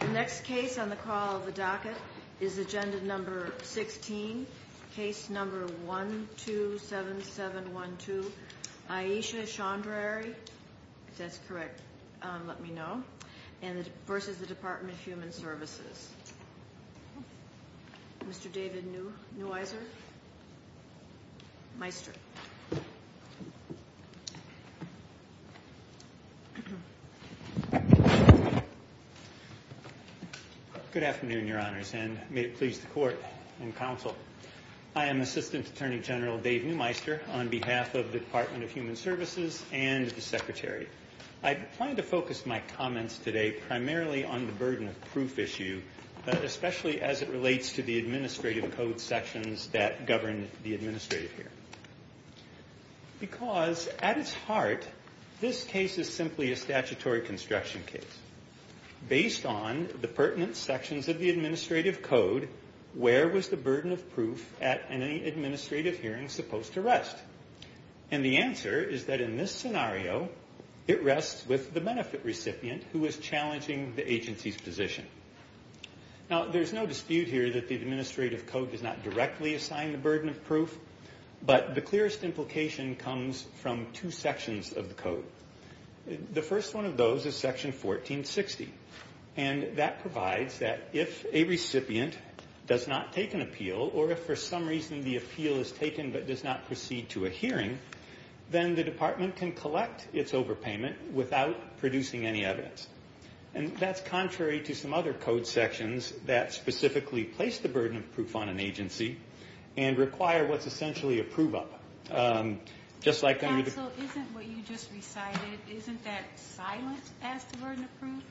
The next case on the call of the docket is Agenda No. 16, Case No. 127712, Ayesha Chaudhary v. Department of Human Services Mr. David Neweiser Meister Good afternoon, Your Honors, and may it please the Court and Counsel. I am Assistant Attorney General Dave Newmeister on behalf of the Department of Human Services and the Secretary. I plan to focus my comments today primarily on the burden of proof issue, especially as it relates to the administrative code sections that govern the administrative hearing. Because at its heart, this case is simply a statutory construction case. Based on the pertinent sections of the administrative code, where was the burden of proof at any administrative hearing supposed to rest? And the answer is that in this scenario, it rests with the benefit recipient who is challenging the agency's position. Now, there's no dispute here that the administrative code does not directly assign the burden of proof, but the clearest implication comes from two sections of the code. The first one of those is Section 1460, and that provides that if a recipient does not take an appeal, or if for some reason the appeal is taken but does not proceed to a hearing, then the Department can collect its overpayment without producing any evidence. And that's contrary to some other code sections that specifically place the burden of proof on an agency and require what's essentially a prove-up. Counsel, isn't what you just recited, isn't that silent as to burden of proof?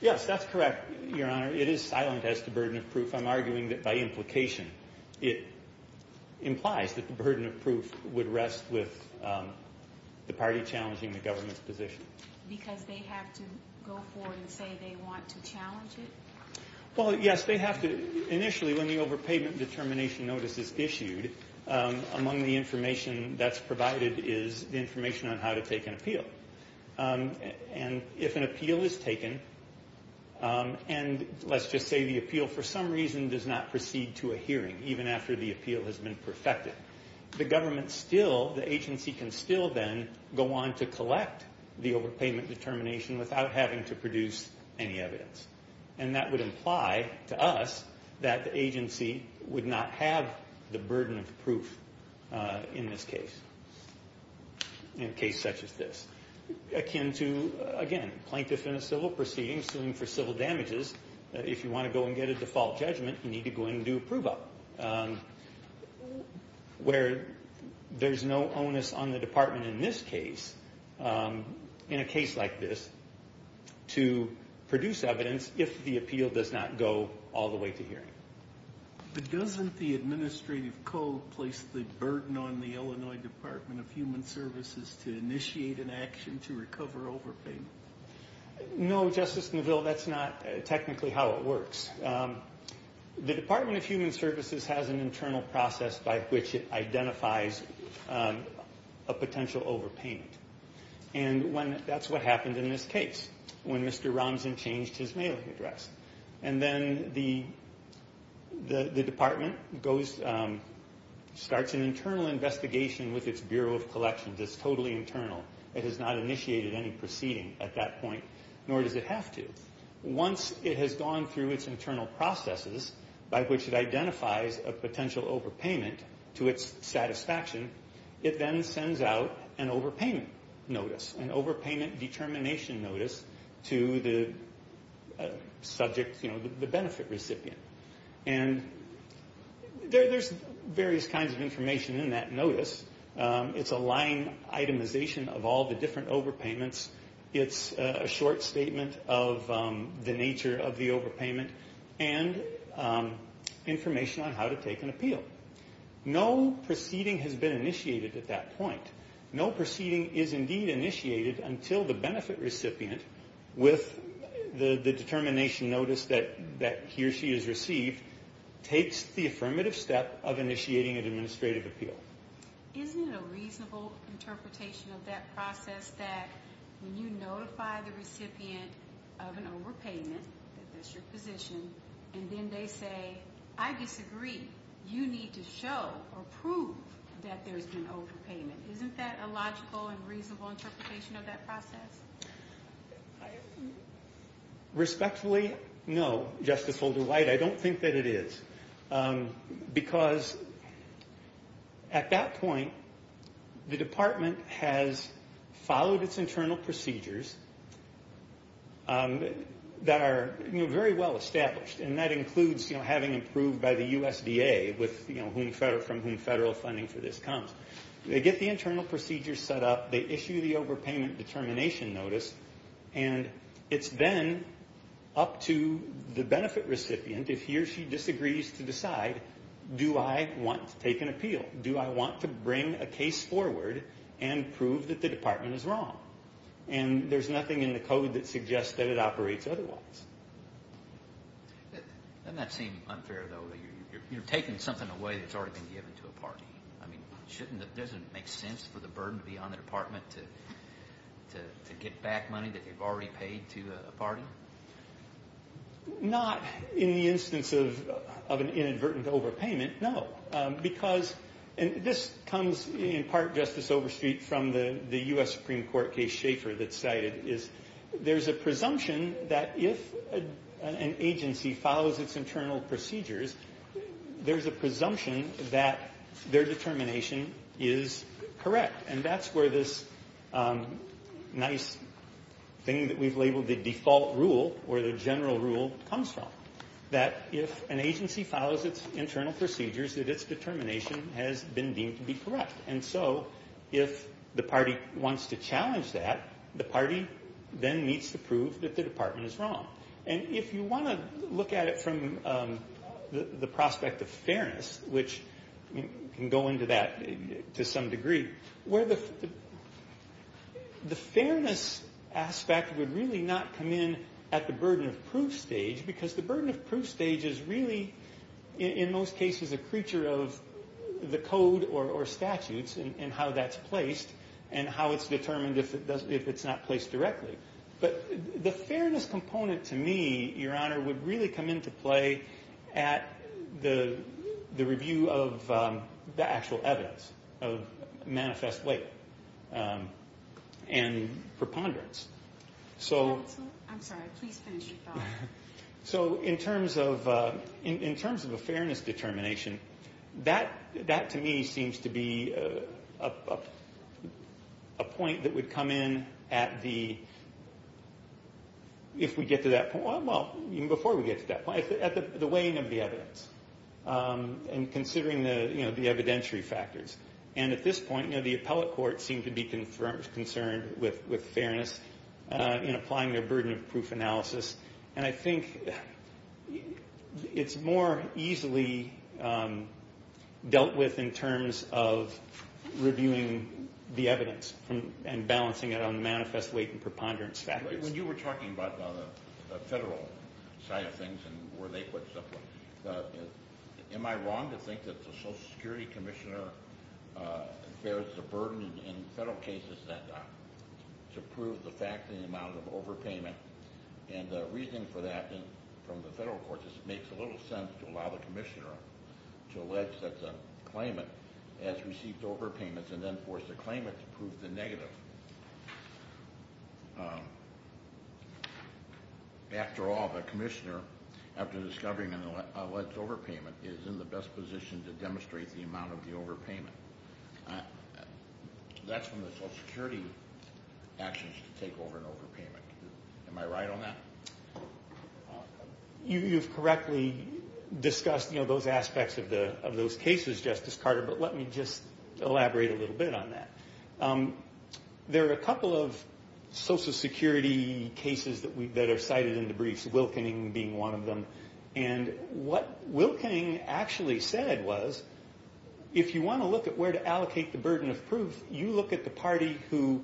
Yes, that's correct, Your Honor. It is silent as to burden of proof. I'm arguing that by implication, it implies that the burden of proof would rest with the party challenging the government's position. Because they have to go forward and say they want to challenge it? Well, yes, they have to initially, when the overpayment determination notice is issued, among the information that's provided is the information on how to take an appeal. And if an appeal is taken, and let's just say the appeal for some reason does not proceed to a hearing, even after the appeal has been perfected, the government still, the agency can still then go on to collect the overpayment determination without having to produce any evidence. And that would imply to us that the agency would not have the burden of proof in this case, in a case such as this. Akin to, again, plaintiff in a civil proceeding, suing for civil damages, if you want to go and get a default judgment, you need to go and do a prove-up. Where there's no onus on the department in this case, in a case like this, to produce evidence if the appeal does not go all the way to hearing. But doesn't the administrative code place the burden on the Illinois Department of Human Services to initiate an action to recover overpayment? No, Justice Neville, that's not technically how it works. The Department of Human Services has an internal process by which it identifies a potential overpayment. And that's what happened in this case, when Mr. Romson changed his mailing address. And then the department starts an internal investigation with its Bureau of Collections. It's totally internal. It has not initiated any proceeding at that point, nor does it have to. Once it has gone through its internal processes, by which it identifies a potential overpayment to its satisfaction, it then sends out an overpayment notice, an overpayment determination notice to the subject, the benefit recipient. And there's various kinds of information in that notice. It's a line itemization of all the different overpayments. It's a short statement of the nature of the overpayment and information on how to take an appeal. No proceeding has been initiated at that point. No proceeding is indeed initiated until the benefit recipient, with the determination notice that he or she has received, takes the affirmative step of initiating an administrative appeal. Isn't it a reasonable interpretation of that process that when you notify the recipient of an overpayment, that that's your position, and then they say, I disagree, you need to show or prove that there's been overpayment? Isn't that a logical and reasonable interpretation of that process? Respectfully, no, Justice Holder-White. I don't think that it is. Because at that point, the department has followed its internal procedures that are very well established, and that includes having approved by the USDA from whom federal funding for this comes. They get the internal procedures set up. They issue the overpayment determination notice. And it's then up to the benefit recipient, if he or she disagrees, to decide, do I want to take an appeal? Do I want to bring a case forward and prove that the department is wrong? And there's nothing in the code that suggests that it operates otherwise. Doesn't that seem unfair, though, that you're taking something away that's already been given to a party? I mean, doesn't it make sense for the burden to be on the department to get back money that they've already paid to a party? Not in the instance of an inadvertent overpayment, no. Because this comes in part, Justice Overstreet, from the U.S. Supreme Court case Schaefer that's cited. There's a presumption that if an agency follows its internal procedures, there's a presumption that their determination is correct. And that's where this nice thing that we've labeled the default rule, or the general rule, comes from. That if an agency follows its internal procedures, that its determination has been deemed to be correct. And so if the party wants to challenge that, the party then needs to prove that the department is wrong. And if you want to look at it from the prospect of fairness, which can go into that to some degree, where the fairness aspect would really not come in at the burden of proof stage, because the burden of proof stage is really, in most cases, a creature of the code or statutes, and how that's placed, and how it's determined if it's not placed directly. But the fairness component, to me, Your Honor, would really come into play at the review of the actual evidence of manifest late and preponderance. I'm sorry. Please finish your thought. So in terms of a fairness determination, that, to me, seems to be a point that would come in at the, if we get to that point, well, even before we get to that point, at the weighing of the evidence and considering the evidentiary factors. And at this point, the appellate court seemed to be concerned with fairness in applying their burden of proof analysis. And I think it's more easily dealt with in terms of reviewing the evidence and balancing it on manifest late and preponderance factors. When you were talking about the federal side of things and where they put stuff, am I wrong to think that the Social Security Commissioner bears the burden in federal cases to prove the fact in the amount of overpayment? And the reasoning for that from the federal courts is it makes little sense to allow the commissioner to allege that the claimant has received overpayments and then force the claimant to prove the negative. After all, the commissioner, after discovering an alleged overpayment, is in the best position to demonstrate the amount of the overpayment. That's when the Social Security action is to take over an overpayment. Am I right on that? You've correctly discussed those aspects of those cases, Justice Carter, but let me just elaborate a little bit on that. There are a couple of Social Security cases that are cited in the briefs, Wilkening being one of them. And what Wilkening actually said was, if you want to look at where to allocate the burden of proof, you look at the party who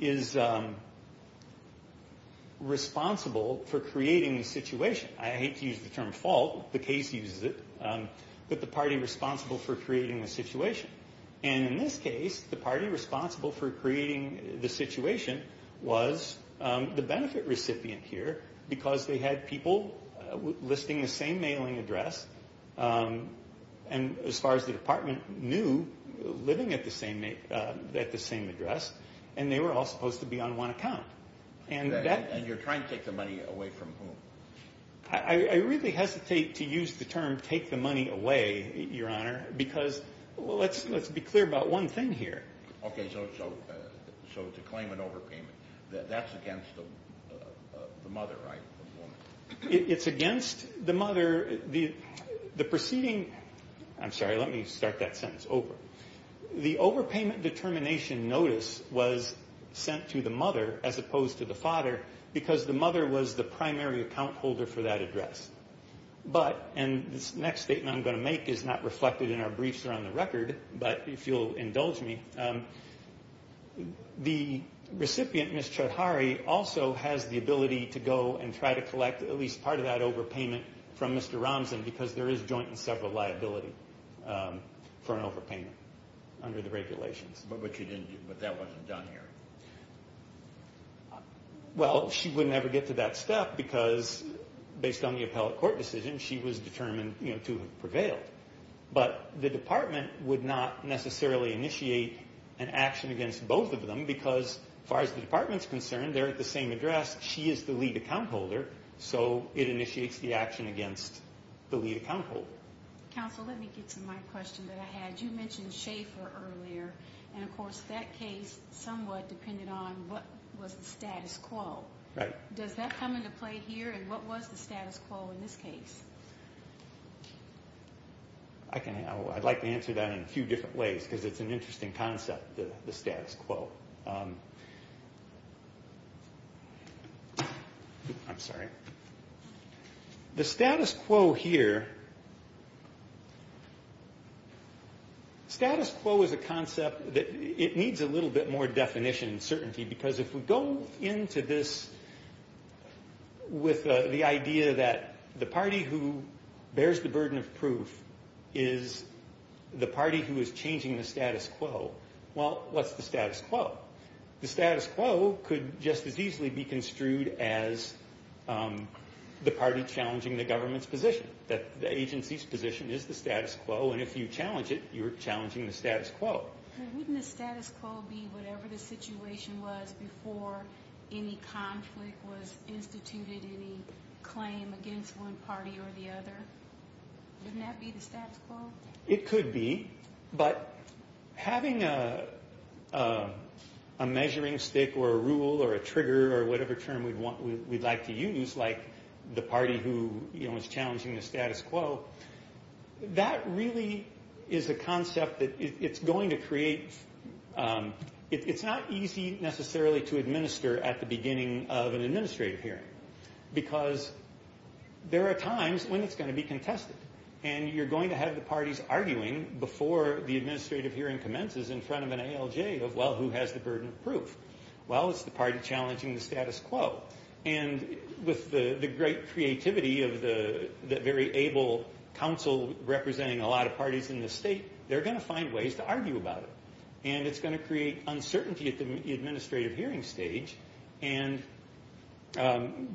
is responsible for creating the situation. I hate to use the term fault, the case uses it, but the party responsible for creating the situation. And in this case, the party responsible for creating the situation was the benefit recipient here, because they had people listing the same mailing address, and as far as the department knew, living at the same address, and they were all supposed to be on one account. And you're trying to take the money away from whom? I really hesitate to use the term take the money away, Your Honor, because let's be clear about one thing here. Okay, so to claim an overpayment, that's against the mother, right? It's against the mother. The preceding, I'm sorry, let me start that sentence over. The overpayment determination notice was sent to the mother as opposed to the father, because the mother was the primary account holder for that address. But, and this next statement I'm going to make is not reflected in our briefs or on the record, but if you'll indulge me, the recipient, Ms. Chodhari, also has the ability to go and try to collect at least part of that overpayment from Mr. Romson, because there is joint and several liability for an overpayment under the regulations. But that wasn't done here. Well, she would never get to that step, because based on the appellate court decision, she was determined to prevail. But the department would not necessarily initiate an action against both of them, because as far as the department's concerned, they're at the same address. She is the lead account holder, so it initiates the action against the lead account holder. Counsel, let me get to my question that I had. You mentioned Schaefer earlier, and of course that case somewhat depended on what was the status quo. Right. Does that come into play here, and what was the status quo in this case? I'd like to answer that in a few different ways, because it's an interesting concept, the status quo. I'm sorry. The status quo here, status quo is a concept that it needs a little bit more definition and certainty, because if we go into this with the idea that the party who bears the burden of proof is the party who is changing the status quo, well, what's the status quo? The status quo could just as easily be construed as the party challenging the government's position, that the agency's position is the status quo, and if you challenge it, you're challenging the status quo. Wouldn't the status quo be whatever the situation was before any conflict was instituted, any claim against one party or the other? Wouldn't that be the status quo? It could be, but having a measuring stick or a rule or a trigger or whatever term we'd like to use, like the party who is challenging the status quo, that really is a concept that it's going to create. It's not easy necessarily to administer at the beginning of an administrative hearing, because there are times when it's going to be contested, and you're going to have the parties arguing before the administrative hearing commences in front of an ALJ of, well, who has the burden of proof? Well, it's the party challenging the status quo. And with the great creativity of the very able council representing a lot of parties in the state, they're going to find ways to argue about it, and it's going to create uncertainty at the administrative hearing stage and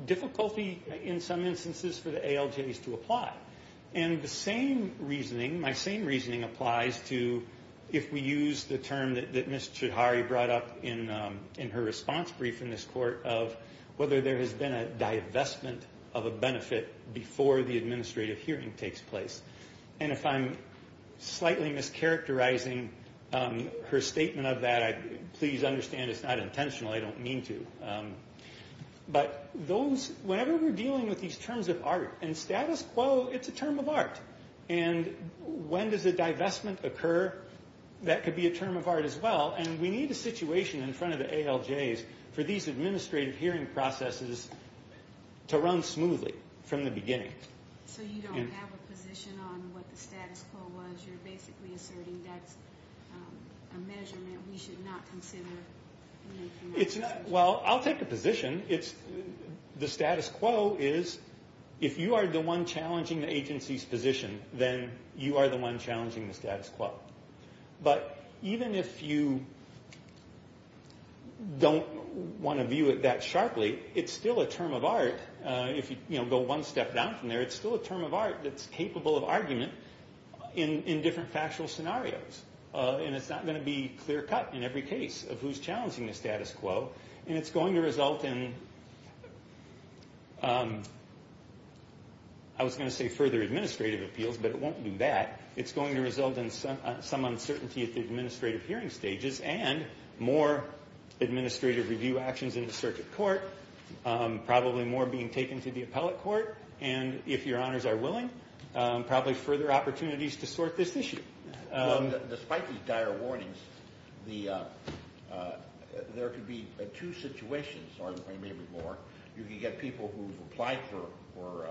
difficulty in some instances for the ALJs to apply. And the same reasoning, my same reasoning applies to if we use the term that Ms. Choudhary brought up in her response brief in this court of whether there has been a divestment of a benefit before the administrative hearing takes place. And if I'm slightly mischaracterizing her statement of that, please understand it's not intentional. I don't mean to. But whenever we're dealing with these terms of art and status quo, it's a term of art. And when does a divestment occur? That could be a term of art as well. And we need a situation in front of the ALJs for these administrative hearing processes to run smoothly from the beginning. So you don't have a position on what the status quo was. You're basically asserting that's a measurement we should not consider making. Well, I'll take a position. The status quo is if you are the one challenging the agency's position, then you are the one challenging the status quo. But even if you don't want to view it that sharply, it's still a term of art. If you go one step down from there, it's still a term of art that's capable of argument in different factual scenarios. And it's not going to be clear cut in every case of who's challenging the status quo. And it's going to result in, I was going to say further administrative appeals, but it won't do that. It's going to result in some uncertainty at the administrative hearing stages and more administrative review actions in the circuit court, probably more being taken to the appellate court, and if your honors are willing, probably further opportunities to sort this issue. Despite these dire warnings, there could be two situations, or maybe more. You could get people who've applied for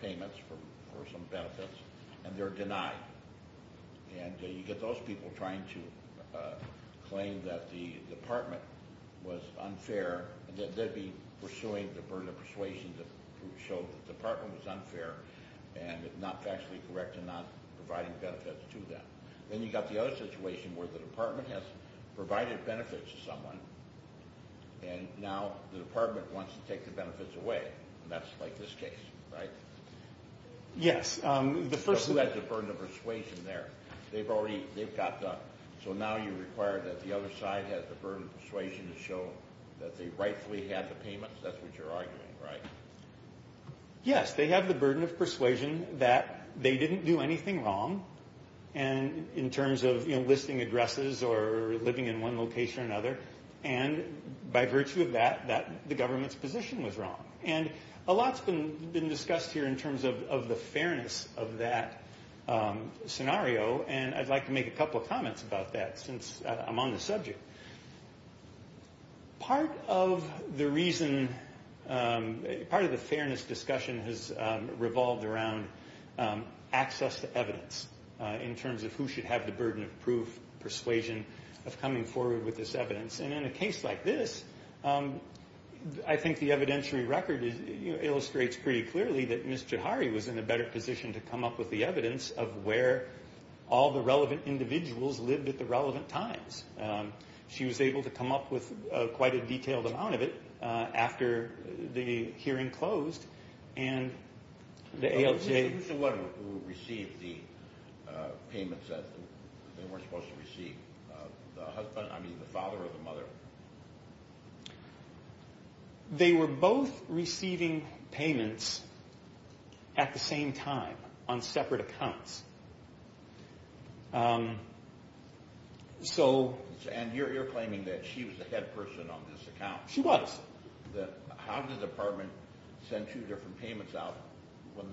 payments for some benefits, and they're denied. And you get those people trying to claim that the department was unfair. They'd be pursuing the persuasion to show that the department was unfair and not factually correct and not providing benefits to them. Then you've got the other situation where the department has provided benefits to someone, and now the department wants to take the benefits away. And that's like this case, right? Yes. So who has the burden of persuasion there? They've already got that. So now you require that the other side has the burden of persuasion to show that they rightfully had the payments. That's what you're arguing, right? Yes, they have the burden of persuasion that they didn't do anything wrong. And in terms of listing addresses or living in one location or another, and by virtue of that, the government's position was wrong. And a lot's been discussed here in terms of the fairness of that scenario, and I'd like to make a couple of comments about that since I'm on the subject. Part of the reason, part of the fairness discussion has revolved around access to evidence in terms of who should have the burden of proof, persuasion of coming forward with this evidence. And in a case like this, I think the evidentiary record illustrates pretty clearly that Ms. Juhari was in a better position to come up with the evidence of where all the relevant individuals lived at the relevant times. She was able to come up with quite a detailed amount of it after the hearing closed. And the ALJ... Who's the one who received the payments that they weren't supposed to receive? The husband, I mean, the father or the mother? They were both receiving payments at the same time on separate accounts. So... And you're claiming that she was the head person on this account. She was. How did the department send two different payments out when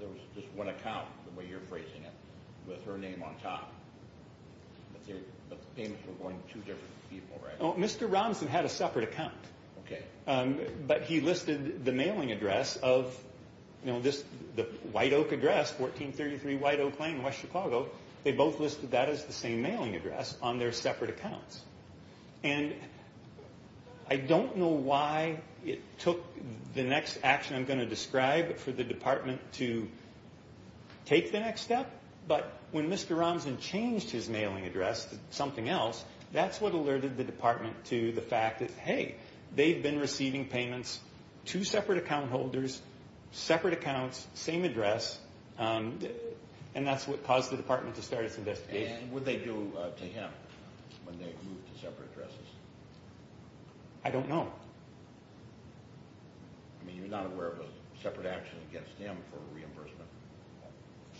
there was just one account, the way you're phrasing it, with her name on top? But the payments were going to two different people, right? Mr. Robinson had a separate account. Okay. But he listed the mailing address of the White Oak address, 1433 White Oak Lane, West Chicago. They both listed that as the same mailing address on their separate accounts. And I don't know why it took the next action I'm going to describe for the department to take the next step. But when Mr. Robinson changed his mailing address to something else, they've been receiving payments, two separate account holders, separate accounts, same address, and that's what caused the department to start its investigation. And what did they do to him when they moved to separate addresses? I don't know. I mean, you're not aware of a separate action against him for reimbursement?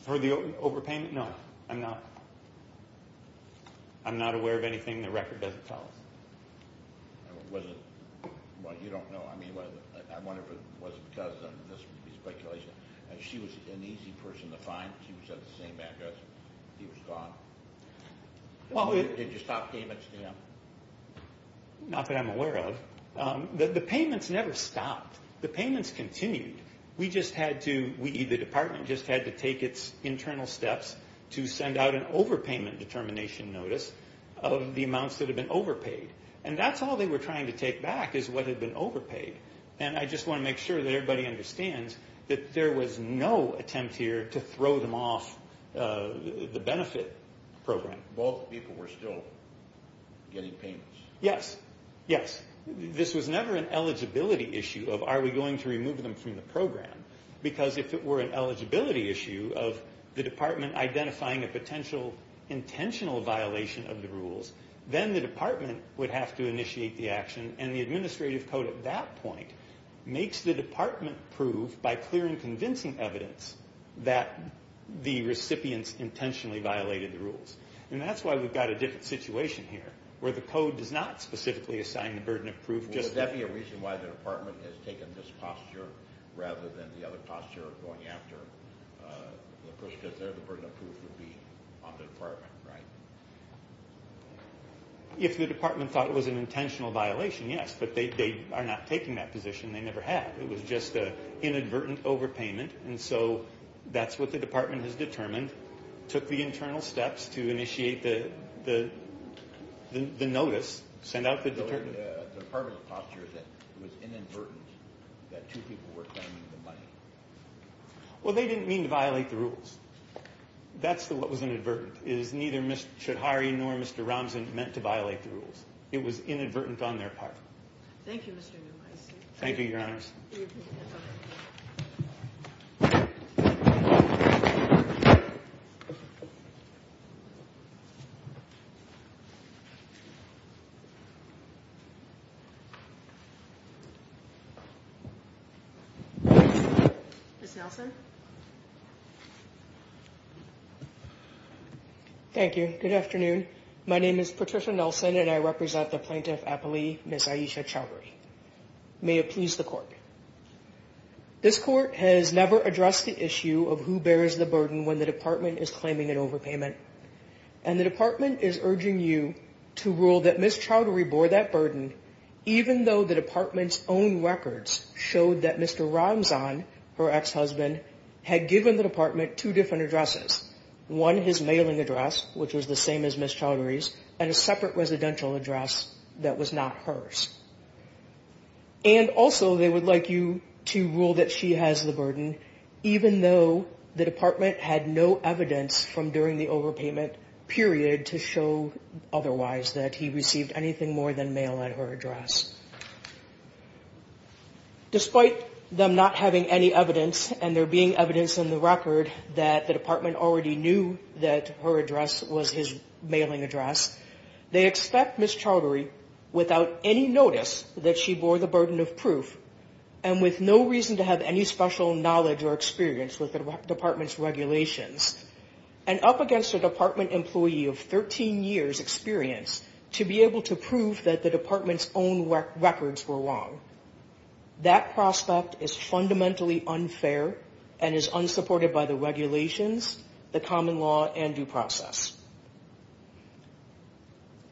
For the overpayment? No, I'm not. I'm not aware of anything. The record doesn't tell us. Well, you don't know. I mean, I wonder if it was because of this speculation. She was an easy person to find. She was at the same address. He was gone. Did you stop payments to him? Not that I'm aware of. The payments never stopped. The payments continued. We, the department, just had to take its internal steps to send out an overpayment determination notice of the amounts that had been overpaid. And that's all they were trying to take back is what had been overpaid. And I just want to make sure that everybody understands that there was no attempt here to throw them off the benefit program. Both people were still getting payments. Yes, yes. This was never an eligibility issue of are we going to remove them from the program, because if it were an eligibility issue of the department identifying a potential intentional violation of the rules, then the department would have to initiate the action. And the administrative code at that point makes the department prove, by clear and convincing evidence, that the recipients intentionally violated the rules. And that's why we've got a different situation here, where the code does not specifically assign the burden of proof just to them. Would that be a reason why the department has taken this posture rather than the other posture of going after the person that's there? The burden of proof would be on the department, right? If the department thought it was an intentional violation, yes. But they are not taking that position. They never have. It was just an inadvertent overpayment. And so that's what the department has determined, took the internal steps to initiate the notice, send out the determination. The department's posture is that it was inadvertent that two people were claiming the money. Well, they didn't mean to violate the rules. That's what was inadvertent, is neither Mr. Choudhary nor Mr. Ramzan meant to violate the rules. It was inadvertent on their part. Thank you, Mr. Neumeister. Thank you, Your Honors. Ms. Nelson. Thank you. Good afternoon. My name is Patricia Nelson, and I represent the Plaintiff Appellee, Ms. Aisha Choudhary. May it please the Court. This Court has never addressed the issue of who bears the burden when the department is claiming an overpayment, and the department is urging you to rule that Ms. Choudhary bore that burden, even though the department's own records showed that Mr. Ramzan, her ex-husband, had given the department two different addresses, one his mailing address, which was the same as Ms. Choudhary's, and a separate residential address that was not hers. And also they would like you to rule that she has the burden, even though the department had no evidence from during the overpayment period to show otherwise that he received anything more than mail at her address. Despite them not having any evidence, and there being evidence in the record that the department already knew that her address was his mailing address, they expect Ms. Choudhary, without any notice that she bore the burden of proof, and with no reason to have any special knowledge or experience with the department's regulations, and up against a department employee of 13 years experience to be able to prove that the department's own records were wrong. That prospect is fundamentally unfair and is unsupported by the regulations, the common law, and due process.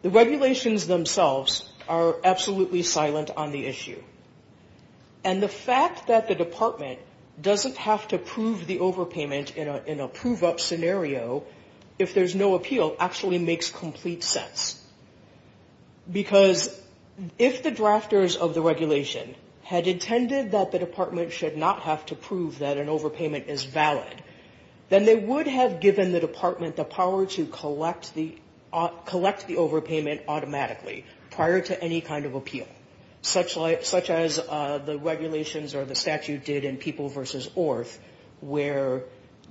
The regulations themselves are absolutely silent on the issue. And the fact that the department doesn't have to prove the overpayment in a prove-up scenario, if there's no appeal, actually makes complete sense. Because if the drafters of the regulation had intended that the department should not have to prove that an overpayment is valid, then they would have given the department the power to collect the overpayment automatically prior to any kind of appeal. Such as the regulations or the statute did in People v. Orth, where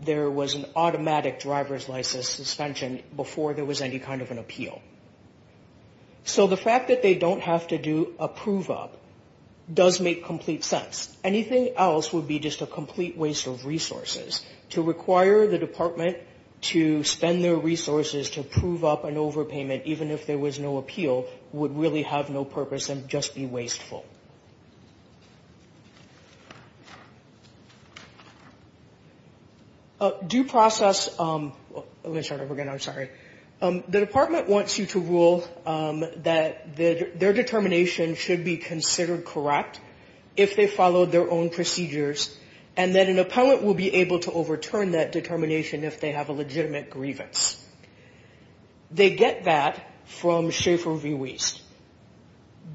there was an automatic driver's license suspension before there was any kind of an appeal. So the fact that they don't have to do a prove-up does make complete sense. Anything else would be just a complete waste of resources. To require the department to spend their resources to prove up an overpayment, even if there was no appeal, would really have no purpose and just be wasteful. Due process, let me start over again, I'm sorry. The department wants you to rule that their determination should be considered correct if they follow their own procedures. And that an appellant will be able to overturn that determination if they have a legitimate grievance. They get that from Schaefer v. Wiest.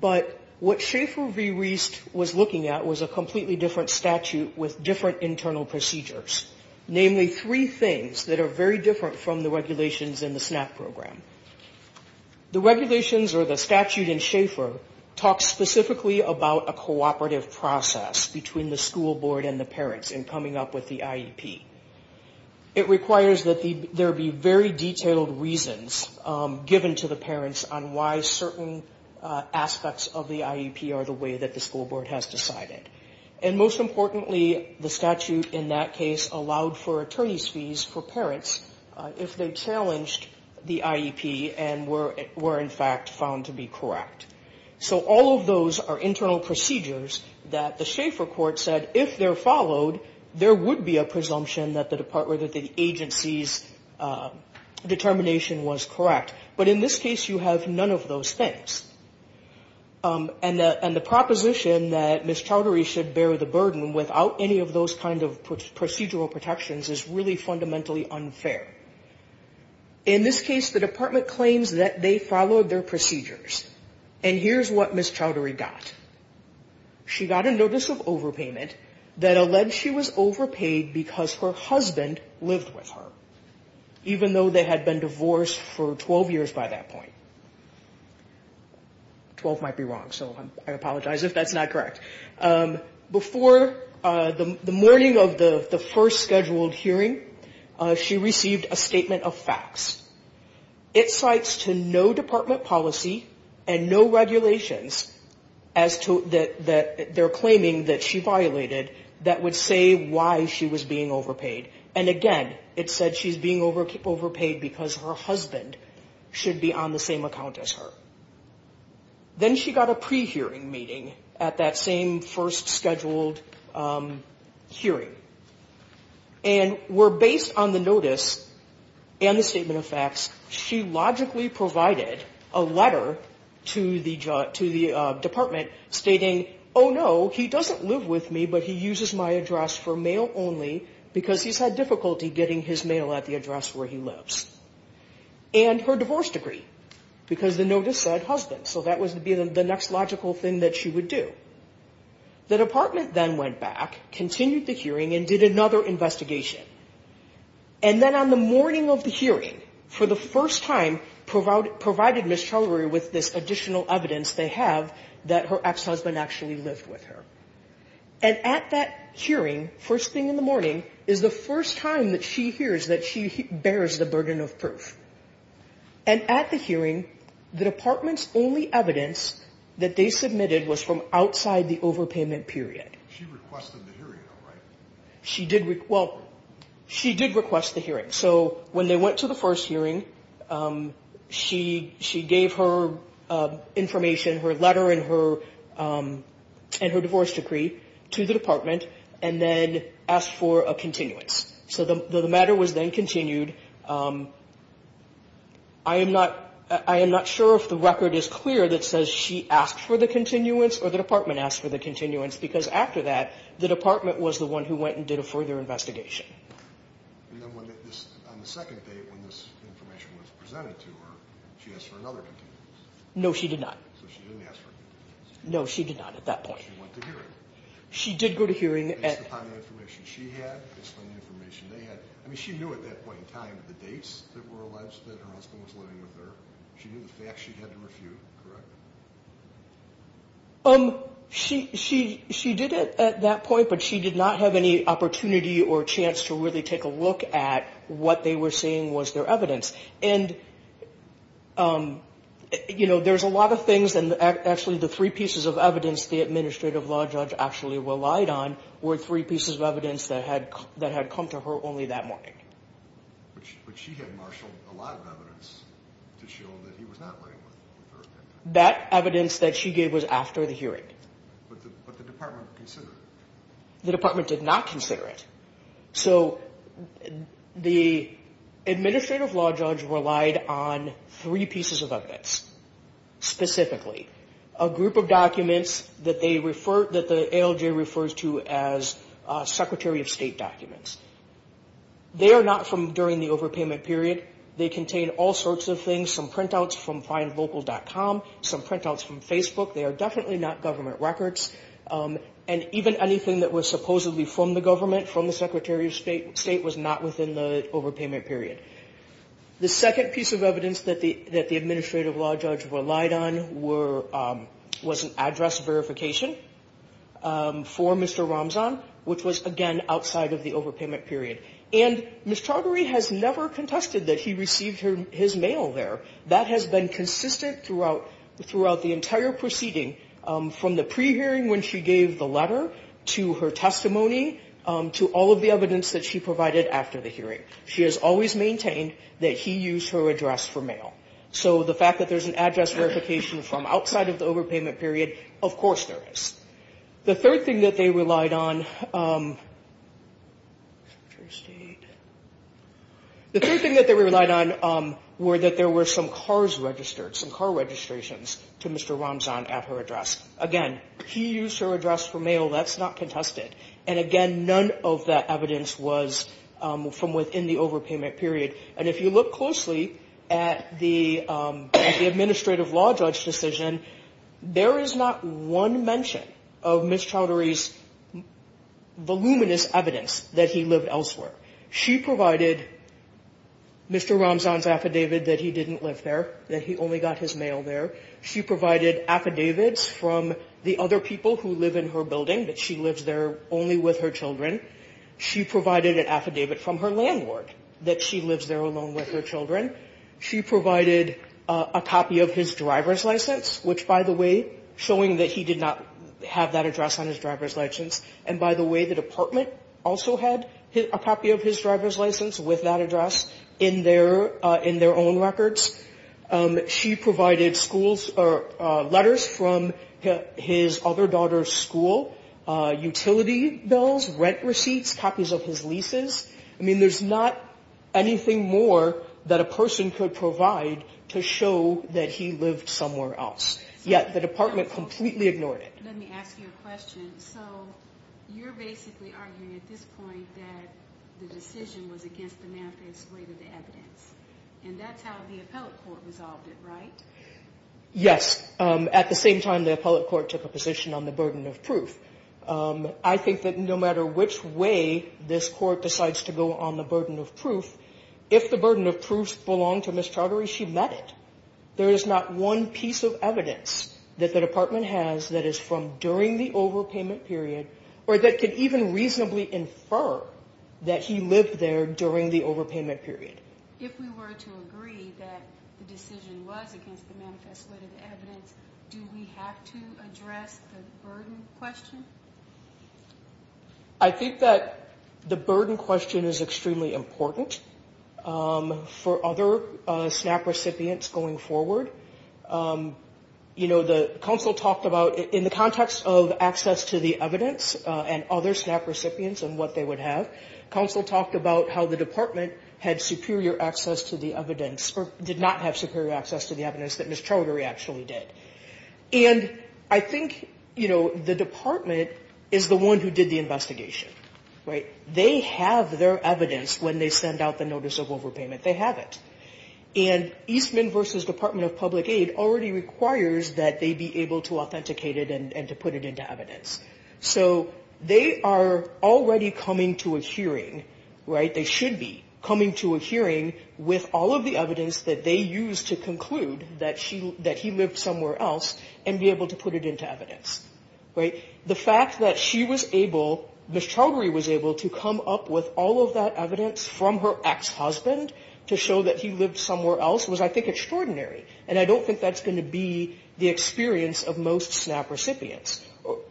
But what Schaefer v. Wiest was looking at was a completely different statute with different internal procedures. Namely, three things that are very different from the regulations in the SNAP program. The regulations or the statute in Schaefer talks specifically about a cooperative process between the school board and the parents in coming up with the IEP. It requires that there be very detailed reasons given to the parents on why certain aspects of the IEP are the way that the school board has decided. And most importantly, the statute in that case allowed for attorney's fees for parents if they challenged the IEP and were in fact found to be correct. So all of those are internal procedures that the Schaefer court said, if they're followed, there would be a presumption that the agency's determination was correct. But in this case, you have none of those things. And the proposition that Ms. Chowdhury should bear the burden without any of those kind of procedural protections is really fundamentally unfair. In this case, the department claims that they followed their procedures. And here's what Ms. Chowdhury got. She got a notice of overpayment that alleged she was overpaid because her husband lived with her, even though they had been divorced for 12 years by that point. Twelve might be wrong, so I apologize if that's not correct. Before the morning of the first scheduled hearing, she received a statement of facts. It cites to no department policy and no regulations that they're claiming that she violated that would say why she was being overpaid. And again, it said she's being overpaid because her husband should be on the same account as her. Then she got a pre-hearing meeting at that same first scheduled hearing. And were based on the notice and the statement of facts, she logically provided a letter to the department stating, oh, no, he doesn't live with me, but he uses my address for mail only because he's had difficulty getting his mail at the address where he lives. And her divorce decree, because the notice said husband. So that was the next logical thing that she would do. The department then went back, continued the hearing and did another investigation. And then on the morning of the hearing, for the first time, provided Ms. Trelawary with this additional evidence they have that her ex-husband actually lived with her. And at that hearing, first thing in the morning, is the first time that she hears that she bears the burden of proof. And at the hearing, the department's only evidence that they submitted was from outside the overpayment period. She requested the hearing, though, right? She did request the hearing. So when they went to the first hearing, she gave her information, her letter and her divorce decree to the department and then asked for a continuance. So the matter was then continued. I am not sure if the record is clear that says she asked for the continuance or the department asked for the continuance, because after that, the department was the one who went and did a further investigation. And then on the second date when this information was presented to her, she asked for another continuance. No, she did not. So she didn't ask for a continuance. No, she did not at that point. She went to hearing. She did go to hearing. Based upon the information she had, based on the information they had, I mean, she knew at that point in time the dates that were alleged that her husband was living with her. She knew the facts. She had to refute, correct? She did at that point, but she did not have any opportunity or chance to really take a look at what they were saying was their evidence. And, you know, there's a lot of things, and actually the three pieces of evidence the administrative law judge actually relied on were three pieces of evidence that had come to her only that morning. But she had marshaled a lot of evidence to show that he was not living with her at that time. That evidence that she gave was after the hearing. But the department considered it. The department did not consider it. So the administrative law judge relied on three pieces of evidence. Specifically, a group of documents that the ALJ refers to as secretary of state documents. They are not from during the overpayment period. They contain all sorts of things, some printouts from findlocal.com, some printouts from Facebook. They are definitely not government records. And even anything that was supposedly from the government, from the secretary of state, was not within the overpayment period. The second piece of evidence that the administrative law judge relied on was an address verification for Mr. Ramzan, which was, again, outside of the overpayment period. And Ms. Chaudhary has never contested that he received his mail there. That has been consistent throughout the entire proceeding, from the pre-hearing when she gave the letter, to her testimony, to all of the evidence that she provided after the hearing. She has always maintained that he used her address for mail. So the fact that there's an address verification from outside of the overpayment period, of course there is. The third thing that they relied on were that there were some cars registered, some car registrations to Mr. Ramzan at her address. Again, he used her address for mail. That's not contested. And, again, none of that evidence was from within the overpayment period. And if you look closely at the administrative law judge decision, there is not one mention of Ms. Chaudhary's voluminous evidence that he lived elsewhere. She provided Mr. Ramzan's affidavit that he didn't live there, that he only got his mail there. She provided affidavits from the other people who live in her building, that she lives there only with her children. She provided an affidavit from her landlord that she lives there alone with her children. She provided a copy of his driver's license, which, by the way, showing that he did not have that address on his driver's license. And, by the way, the department also had a copy of his driver's license with that address in their own records. She provided letters from his other daughter's school, utility bills, rent receipts, copies of his leases. I mean, there's not anything more that a person could provide to show that he lived somewhere else. Yet the department completely ignored it. Let me ask you a question. So you're basically arguing at this point that the decision was against the math that's related to evidence. And that's how the appellate court resolved it, right? Yes. At the same time, the appellate court took a position on the burden of proof. I think that no matter which way this court decides to go on the burden of proof, if the burden of proof belonged to Ms. Chaudhary, she met it. There is not one piece of evidence that the department has that is from during the overpayment period or that could even reasonably infer that he lived there during the overpayment period. If we were to agree that the decision was against the math that's related to evidence, do we have to address the burden question? I think that the burden question is extremely important for other SNAP recipients going forward. You know, the counsel talked about in the context of access to the evidence and other SNAP recipients and what they would have, counsel talked about how the department had superior access to the evidence or did not have superior access to the evidence that Ms. Chaudhary actually did. And I think, you know, the department is the one who did the investigation, right? They have their evidence when they send out the notice of overpayment. They have it. And Eastman v. Department of Public Aid already requires that they be able to authenticate it and to put it into evidence. So they are already coming to a hearing, right? They should be coming to a hearing with all of the evidence that they used to conclude that he lived somewhere else and be able to put it into evidence, right? The fact that she was able, Ms. Chaudhary was able to come up with all of that evidence from her ex-husband to show that he lived somewhere else was, I think, extraordinary. And I don't think that's going to be the experience of most SNAP recipients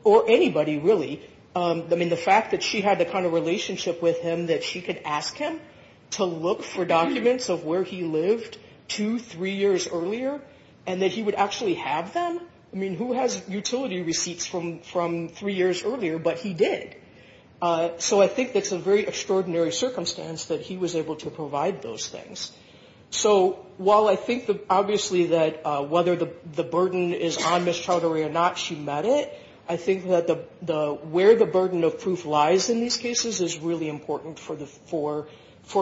or anybody, really. I mean, the fact that she had the kind of relationship with him that she could ask him to look for documents of where he lived two, three years earlier and that he would actually have them. I mean, who has utility receipts from three years earlier? But he did. So I think that's a very extraordinary circumstance that he was able to provide those things. So while I think, obviously, that whether the burden is on Ms. Chaudhary or not, she met it, I think that where the burden of proof lies in these cases is really important for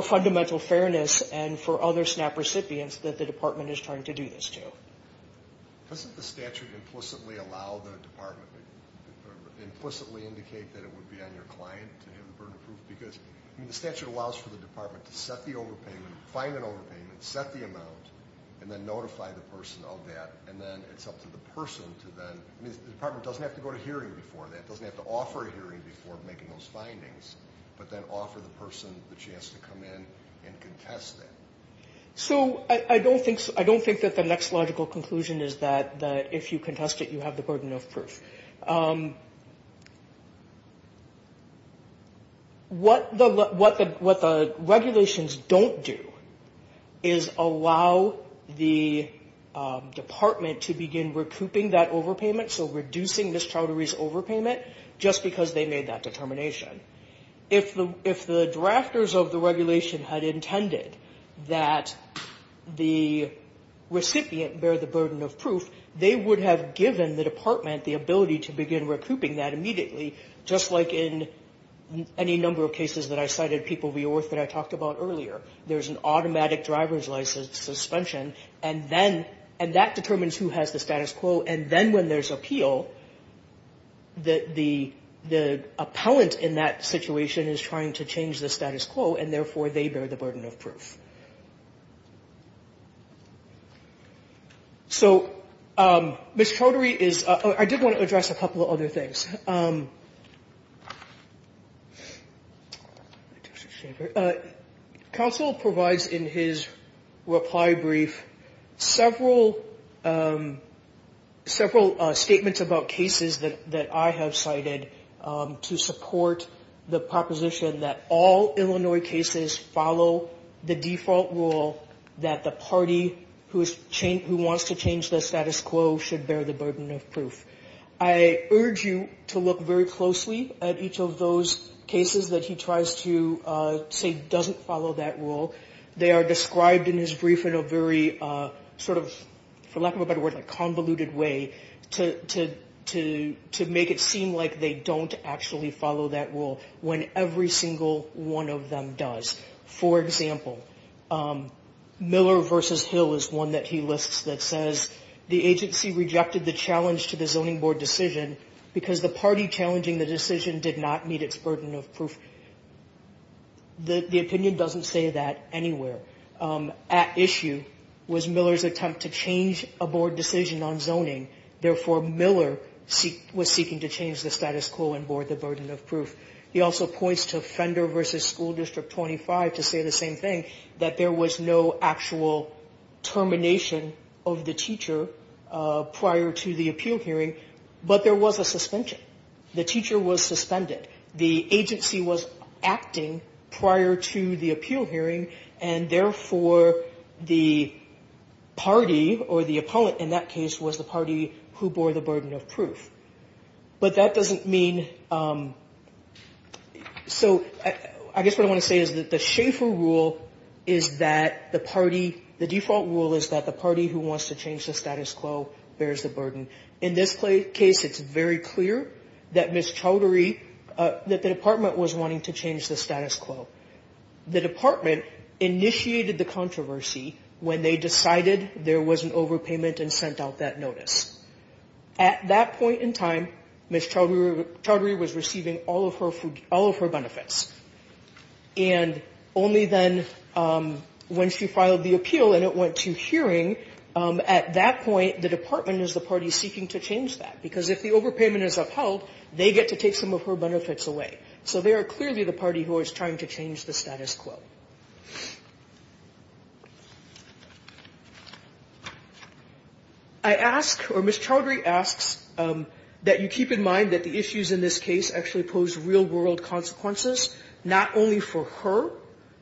fundamental fairness and for other SNAP recipients that the department is trying to do this to. Doesn't the statute implicitly allow the department, implicitly indicate that it would be on your client to have the burden of proof? Because the statute allows for the department to set the overpayment, find an overpayment, set the amount, and then notify the person of that, and then it's up to the person to then. I mean, the department doesn't have to go to hearing before that. It doesn't have to offer a hearing before making those findings, but then offer the person the chance to come in and contest that. So I don't think that the next logical conclusion is that if you contest it, you have the burden of proof. What the regulations don't do is allow the department to begin recouping that overpayment, so reducing Ms. Chaudhary's overpayment, just because they made that determination. If the drafters of the regulation had intended that the recipient bear the burden of proof, they would have given the department the ability to begin recouping that immediately, just like in any number of cases that I cited, People v. Orth, that I talked about earlier. There's an automatic driver's license suspension, and that determines who has the status quo, and then when there's appeal, the appellant in that situation is trying to change the status quo, and therefore they bear the burden of proof. So Ms. Chaudhary is – I did want to address a couple of other things. Counsel provides in his reply brief several statements about cases that I have cited to support the proposition that all Illinois cases follow the default rule that the party who wants to change the status quo should bear the burden of proof. I urge you to look very closely at each of those cases that he tries to say doesn't follow that rule. They are described in his brief in a very sort of, for lack of a better word, convoluted way to make it seem like they don't actually follow that rule when every single one of them does. For example, Miller v. Hill is one that he lists that says, the agency rejected the challenge to the zoning board decision because the party challenging the decision did not meet its burden of proof. The opinion doesn't say that anywhere. At issue was Miller's attempt to change a board decision on zoning, therefore Miller was seeking to change the status quo and bore the burden of proof. He also points to Fender v. School District 25 to say the same thing, that there was no actual termination of the teacher prior to the appeal hearing, but there was a suspension. The teacher was suspended. The agency was acting prior to the appeal hearing, and therefore the party or the opponent in that case was the party who bore the burden of proof. But that doesn't mean, so I guess what I want to say is that the Schaefer rule is that the party, the default rule is that the party who wants to change the status quo bears the burden. In this case, it's very clear that Ms. Chowdhury, that the department was wanting to change the status quo. The department initiated the controversy when they decided there was an overpayment and sent out that notice. At that point in time, Ms. Chowdhury was receiving all of her benefits. And only then, when she filed the appeal and it went to hearing, at that point the department is the party seeking to change that. Because if the overpayment is upheld, they get to take some of her benefits away. So they are clearly the party who is trying to change the status quo. I ask, or Ms. Chowdhury asks, that you keep in mind that the issues in this case actually pose real-world consequences, not only for her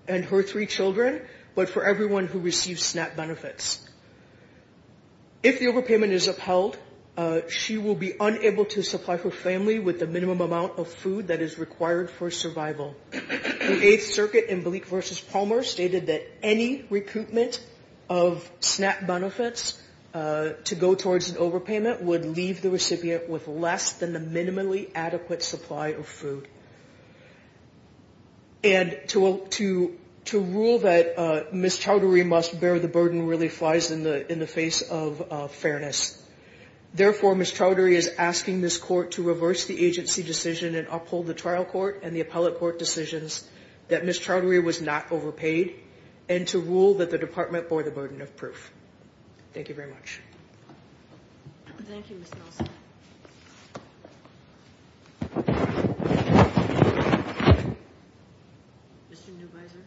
and her three children, but for everyone who receives SNAP benefits. If the overpayment is upheld, she will be unable to supply her family with the minimum amount of food that is required for survival. The Eighth Circuit in Bleak v. Palmer stated that any recoupment of SNAP benefits to go towards an overpayment would leave the recipient with less than the minimally adequate supply of food. And to rule that Ms. Chowdhury must bear the burden really flies in the face of fairness. Therefore, Ms. Chowdhury is asking this court to reverse the agency decision and uphold the trial court and the appellate court decisions that Ms. Chowdhury was not overpaid and to rule that the department bore the burden of proof. Thank you very much. Thank you, Ms. Nelson. Mr. Newbeiser.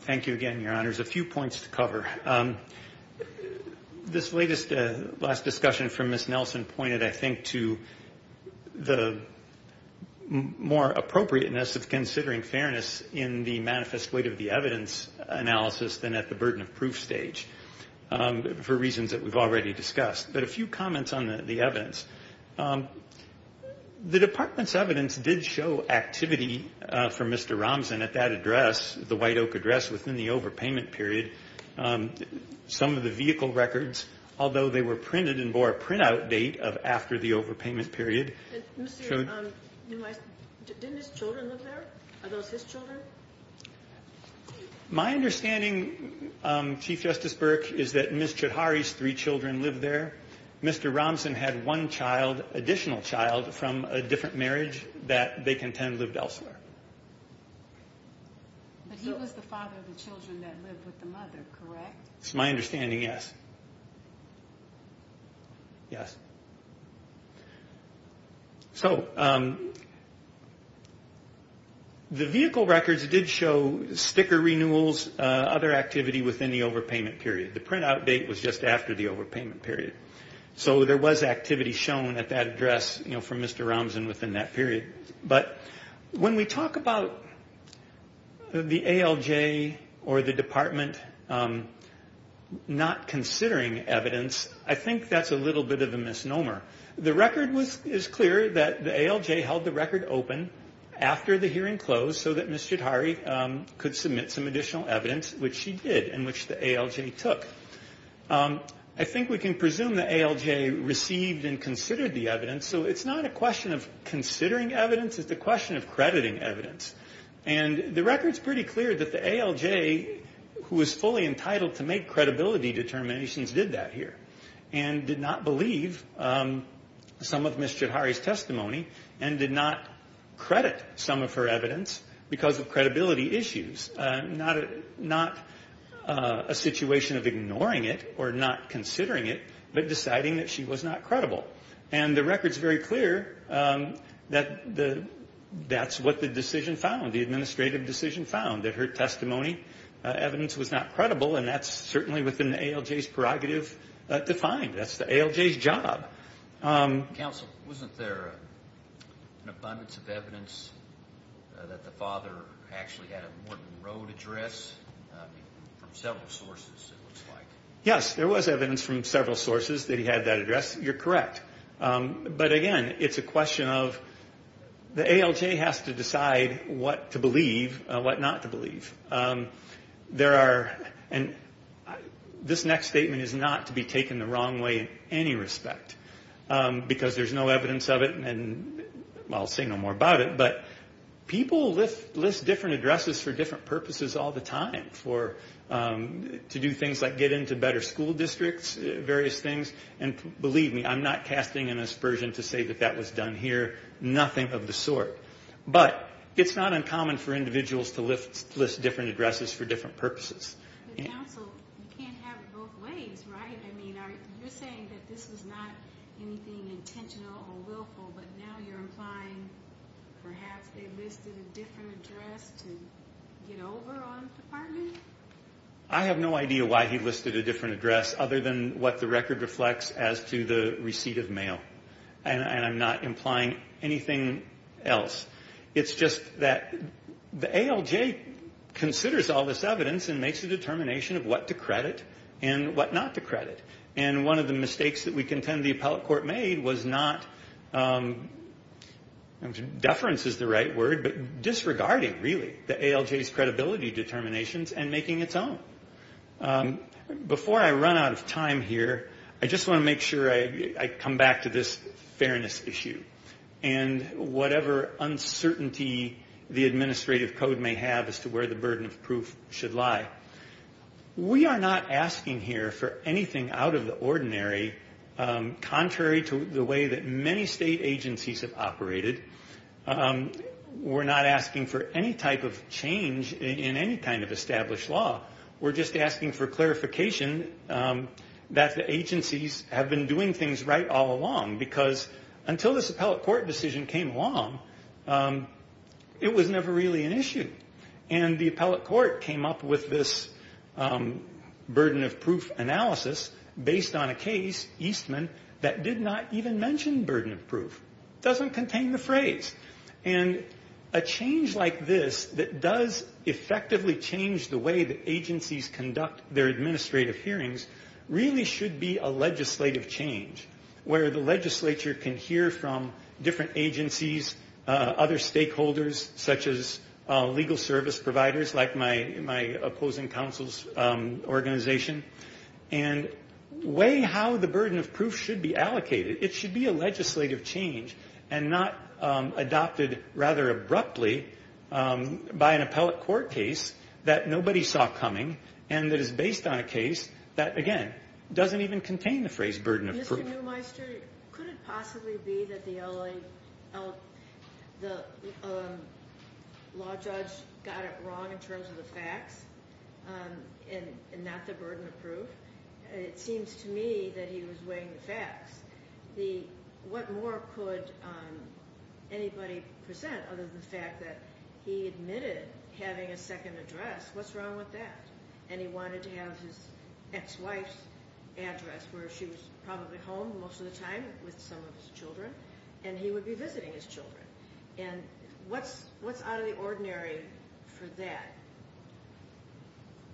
Thank you again, Your Honors. A few points to cover. This latest last discussion from Ms. Nelson pointed, I think, to the more appropriateness of considering fairness in the manifest weight of the evidence analysis than at the burden of proof stage for reasons that we've already discussed. But a few comments on the evidence. The department's evidence did show activity for Mr. Ramzan at that address, the White Oak address within the overpayment period. Some of the vehicle records, although they were printed and bore a printout date of after the overpayment period. Mr. Newbeiser, didn't his children live there? Are those his children? My understanding, Chief Justice Burke, is that Ms. Chowdhury's three children lived there. Mr. Ramzan had one child, additional child, from a different marriage that they contend lived elsewhere. But he was the father of the children that lived with the mother, correct? It's my understanding, yes. Yes. So the vehicle records did show sticker renewals, other activity within the overpayment period. The printout date was just after the overpayment period. So there was activity shown at that address from Mr. Ramzan within that period. But when we talk about the ALJ or the department not considering evidence, I think that's a little bit of a misnomer. The record is clear that the ALJ held the record open after the hearing closed so that Ms. Chowdhury could submit some additional evidence, which she did, and which the ALJ took. I think we can presume the ALJ received and considered the evidence. So it's not a question of considering evidence. It's a question of crediting evidence. And the record's pretty clear that the ALJ, who was fully entitled to make credibility determinations, did that here and did not believe some of Ms. Chowdhury's testimony and did not credit some of her evidence because of credibility issues. Not a situation of ignoring it or not considering it, but deciding that she was not credible. And the record's very clear that that's what the decision found, the administrative decision found, that her testimony evidence was not credible, and that's certainly within the ALJ's prerogative to find. That's the ALJ's job. Counsel, wasn't there an abundance of evidence that the father actually had a Morton Road address? From several sources, it looks like. Yes, there was evidence from several sources that he had that address. You're correct. But, again, it's a question of the ALJ has to decide what to believe, what not to believe. There are, and this next statement is not to be taken the wrong way in any respect because there's no evidence of it, and I'll say no more about it, but people list different addresses for different purposes all the time, to do things like get into better school districts, various things, and believe me, I'm not casting an aspersion to say that that was done here. Nothing of the sort. But it's not uncommon for individuals to list different addresses for different purposes. But, counsel, you can't have it both ways, right? I mean, you're saying that this was not anything intentional or willful, but now you're implying perhaps they listed a different address to get over on the department? I have no idea why he listed a different address other than what the record reflects as to the receipt of mail, and I'm not implying anything else. It's just that the ALJ considers all this evidence and makes a determination of what to credit and what not to credit, and one of the mistakes that we contend the appellate court made was not, deference is the right word, but disregarding, really, the ALJ's credibility determinations and making its own. Before I run out of time here, I just want to make sure I come back to this fairness issue and whatever uncertainty the administrative code may have as to where the burden of proof should lie. We are not asking here for anything out of the ordinary, contrary to the way that many state agencies have operated. We're not asking for any type of change in any kind of established law. We're just asking for clarification that the agencies have been doing things right all along, because until this appellate court decision came along, it was never really an issue, and the appellate court came up with this burden of proof analysis based on a case, Eastman, that did not even mention burden of proof. It doesn't contain the phrase, and a change like this that does effectively change the way that agencies conduct their administrative hearings really should be a legislative change where the legislature can hear from different agencies, other stakeholders such as legal service providers like my opposing counsel's organization, and weigh how the burden of proof should be allocated. It should be a legislative change and not adopted rather abruptly by an appellate court case that nobody saw coming and that is based on a case that, again, doesn't even contain the phrase burden of proof. Mr. Neumeister, could it possibly be that the law judge got it wrong in terms of the facts and not the burden of proof? It seems to me that he was weighing the facts. What more could anybody present other than the fact that he admitted having a second address? What's wrong with that? And he wanted to have his ex-wife's address where she was probably home most of the time with some of his children, and he would be visiting his children. And what's out of the ordinary for that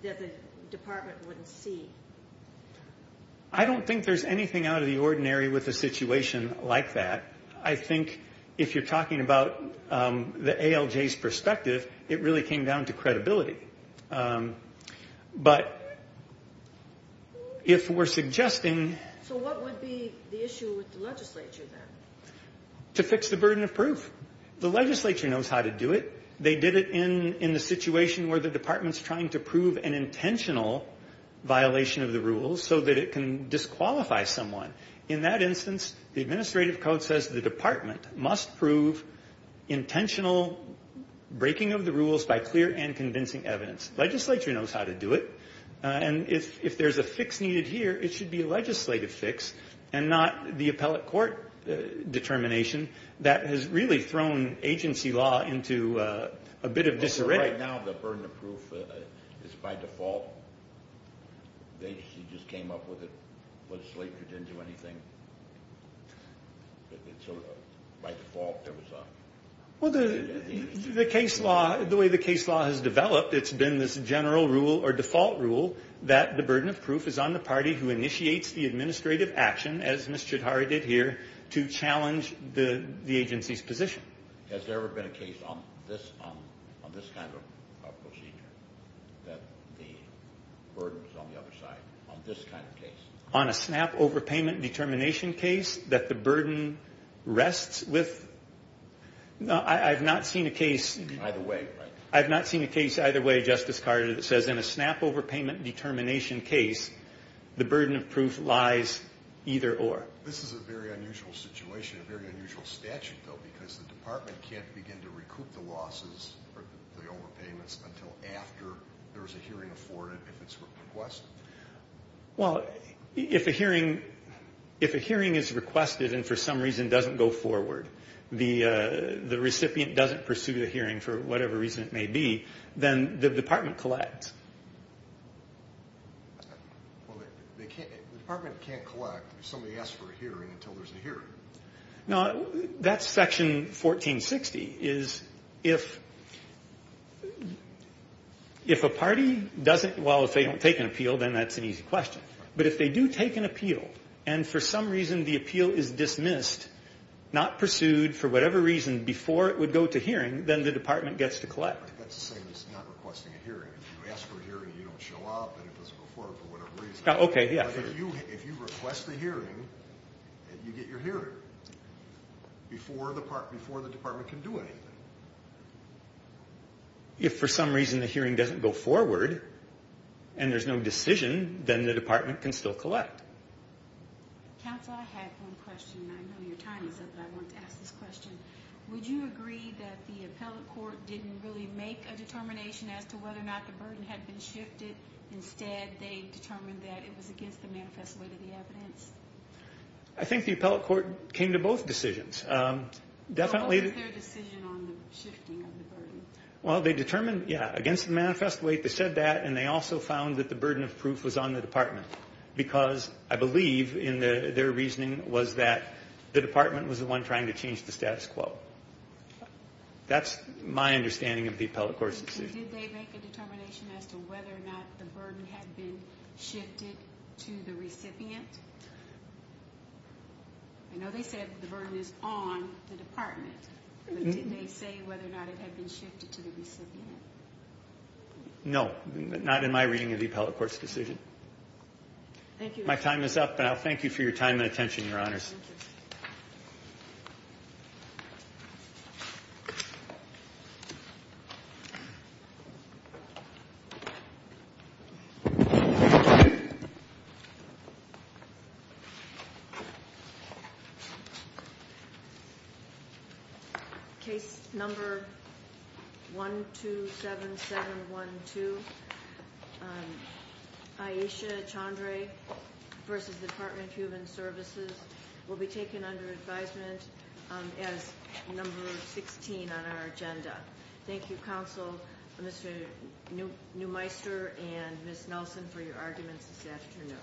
that the department wouldn't see? I don't think there's anything out of the ordinary with a situation like that. I think if you're talking about the ALJ's perspective, it really came down to credibility. But if we're suggesting... So what would be the issue with the legislature then? To fix the burden of proof. The legislature knows how to do it. They did it in the situation where the department's trying to prove an intentional violation of the rules so that it can disqualify someone. In that instance, the administrative code says the department must prove intentional breaking of the rules by clear and convincing evidence. Legislature knows how to do it. And if there's a fix needed here, it should be a legislative fix and not the appellate court determination that has really thrown agency law into a bit of disarray. Right now, the burden of proof is by default. The agency just came up with it. Legislature didn't do anything. So by default, there was a... Well, the way the case law has developed, it's been this general rule or default rule that the burden of proof is on the party who initiates the administrative action, as Ms. Chidhari did here, to challenge the agency's position. Has there ever been a case on this kind of procedure that the burden is on the other side, on this kind of case? On a snap overpayment determination case that the burden rests with? No, I've not seen a case... Either way, right? I've not seen a case either way, Justice Carter, that says in a snap overpayment determination case, the burden of proof lies either or. This is a very unusual situation, a very unusual statute, though, because the department can't begin to recoup the losses or the overpayments until after there's a hearing afforded, if it's requested. Well, if a hearing is requested and for some reason doesn't go forward, the recipient doesn't pursue the hearing for whatever reason it may be, then the department collects. Well, the department can't collect if somebody asks for a hearing until there's a hearing. No, that's Section 1460, is if a party doesn't... Well, if they don't take an appeal, then that's an easy question. But if they do take an appeal, and for some reason the appeal is dismissed, not pursued for whatever reason before it would go to hearing, then the department gets to collect. That's the same as not requesting a hearing. If you ask for a hearing, you don't show up, and it doesn't go forward for whatever reason. Okay, yeah. If you request the hearing, you get your hearing before the department can do anything. If for some reason the hearing doesn't go forward and there's no decision, then the department can still collect. Counsel, I have one question, and I know your time is up, but I wanted to ask this question. Would you agree that the appellate court didn't really make a determination as to whether or not the burden had been shifted? Instead, they determined that it was against the manifesto weight of the evidence? I think the appellate court came to both decisions. What was their decision on the shifting of the burden? Well, they determined, yeah, against the manifesto weight. They said that, and they also found that the burden of proof was on the department because I believe their reasoning was that the department was the one trying to change the status quo. That's my understanding of the appellate court's decision. Did they make a determination as to whether or not the burden had been shifted to the recipient? I know they said the burden is on the department, but did they say whether or not it had been shifted to the recipient? No, not in my reading of the appellate court's decision. Thank you. My time is up, and I'll thank you for your time and attention, Your Honors. Thank you. Thank you. Thank you. Thank you. Case number 127712. Ayesha Chandra v. Department of Human Services will be taken under advisement as number 16 on our agenda. Thank you, Counsel Neumeister and Ms. Nelson, for your arguments this afternoon.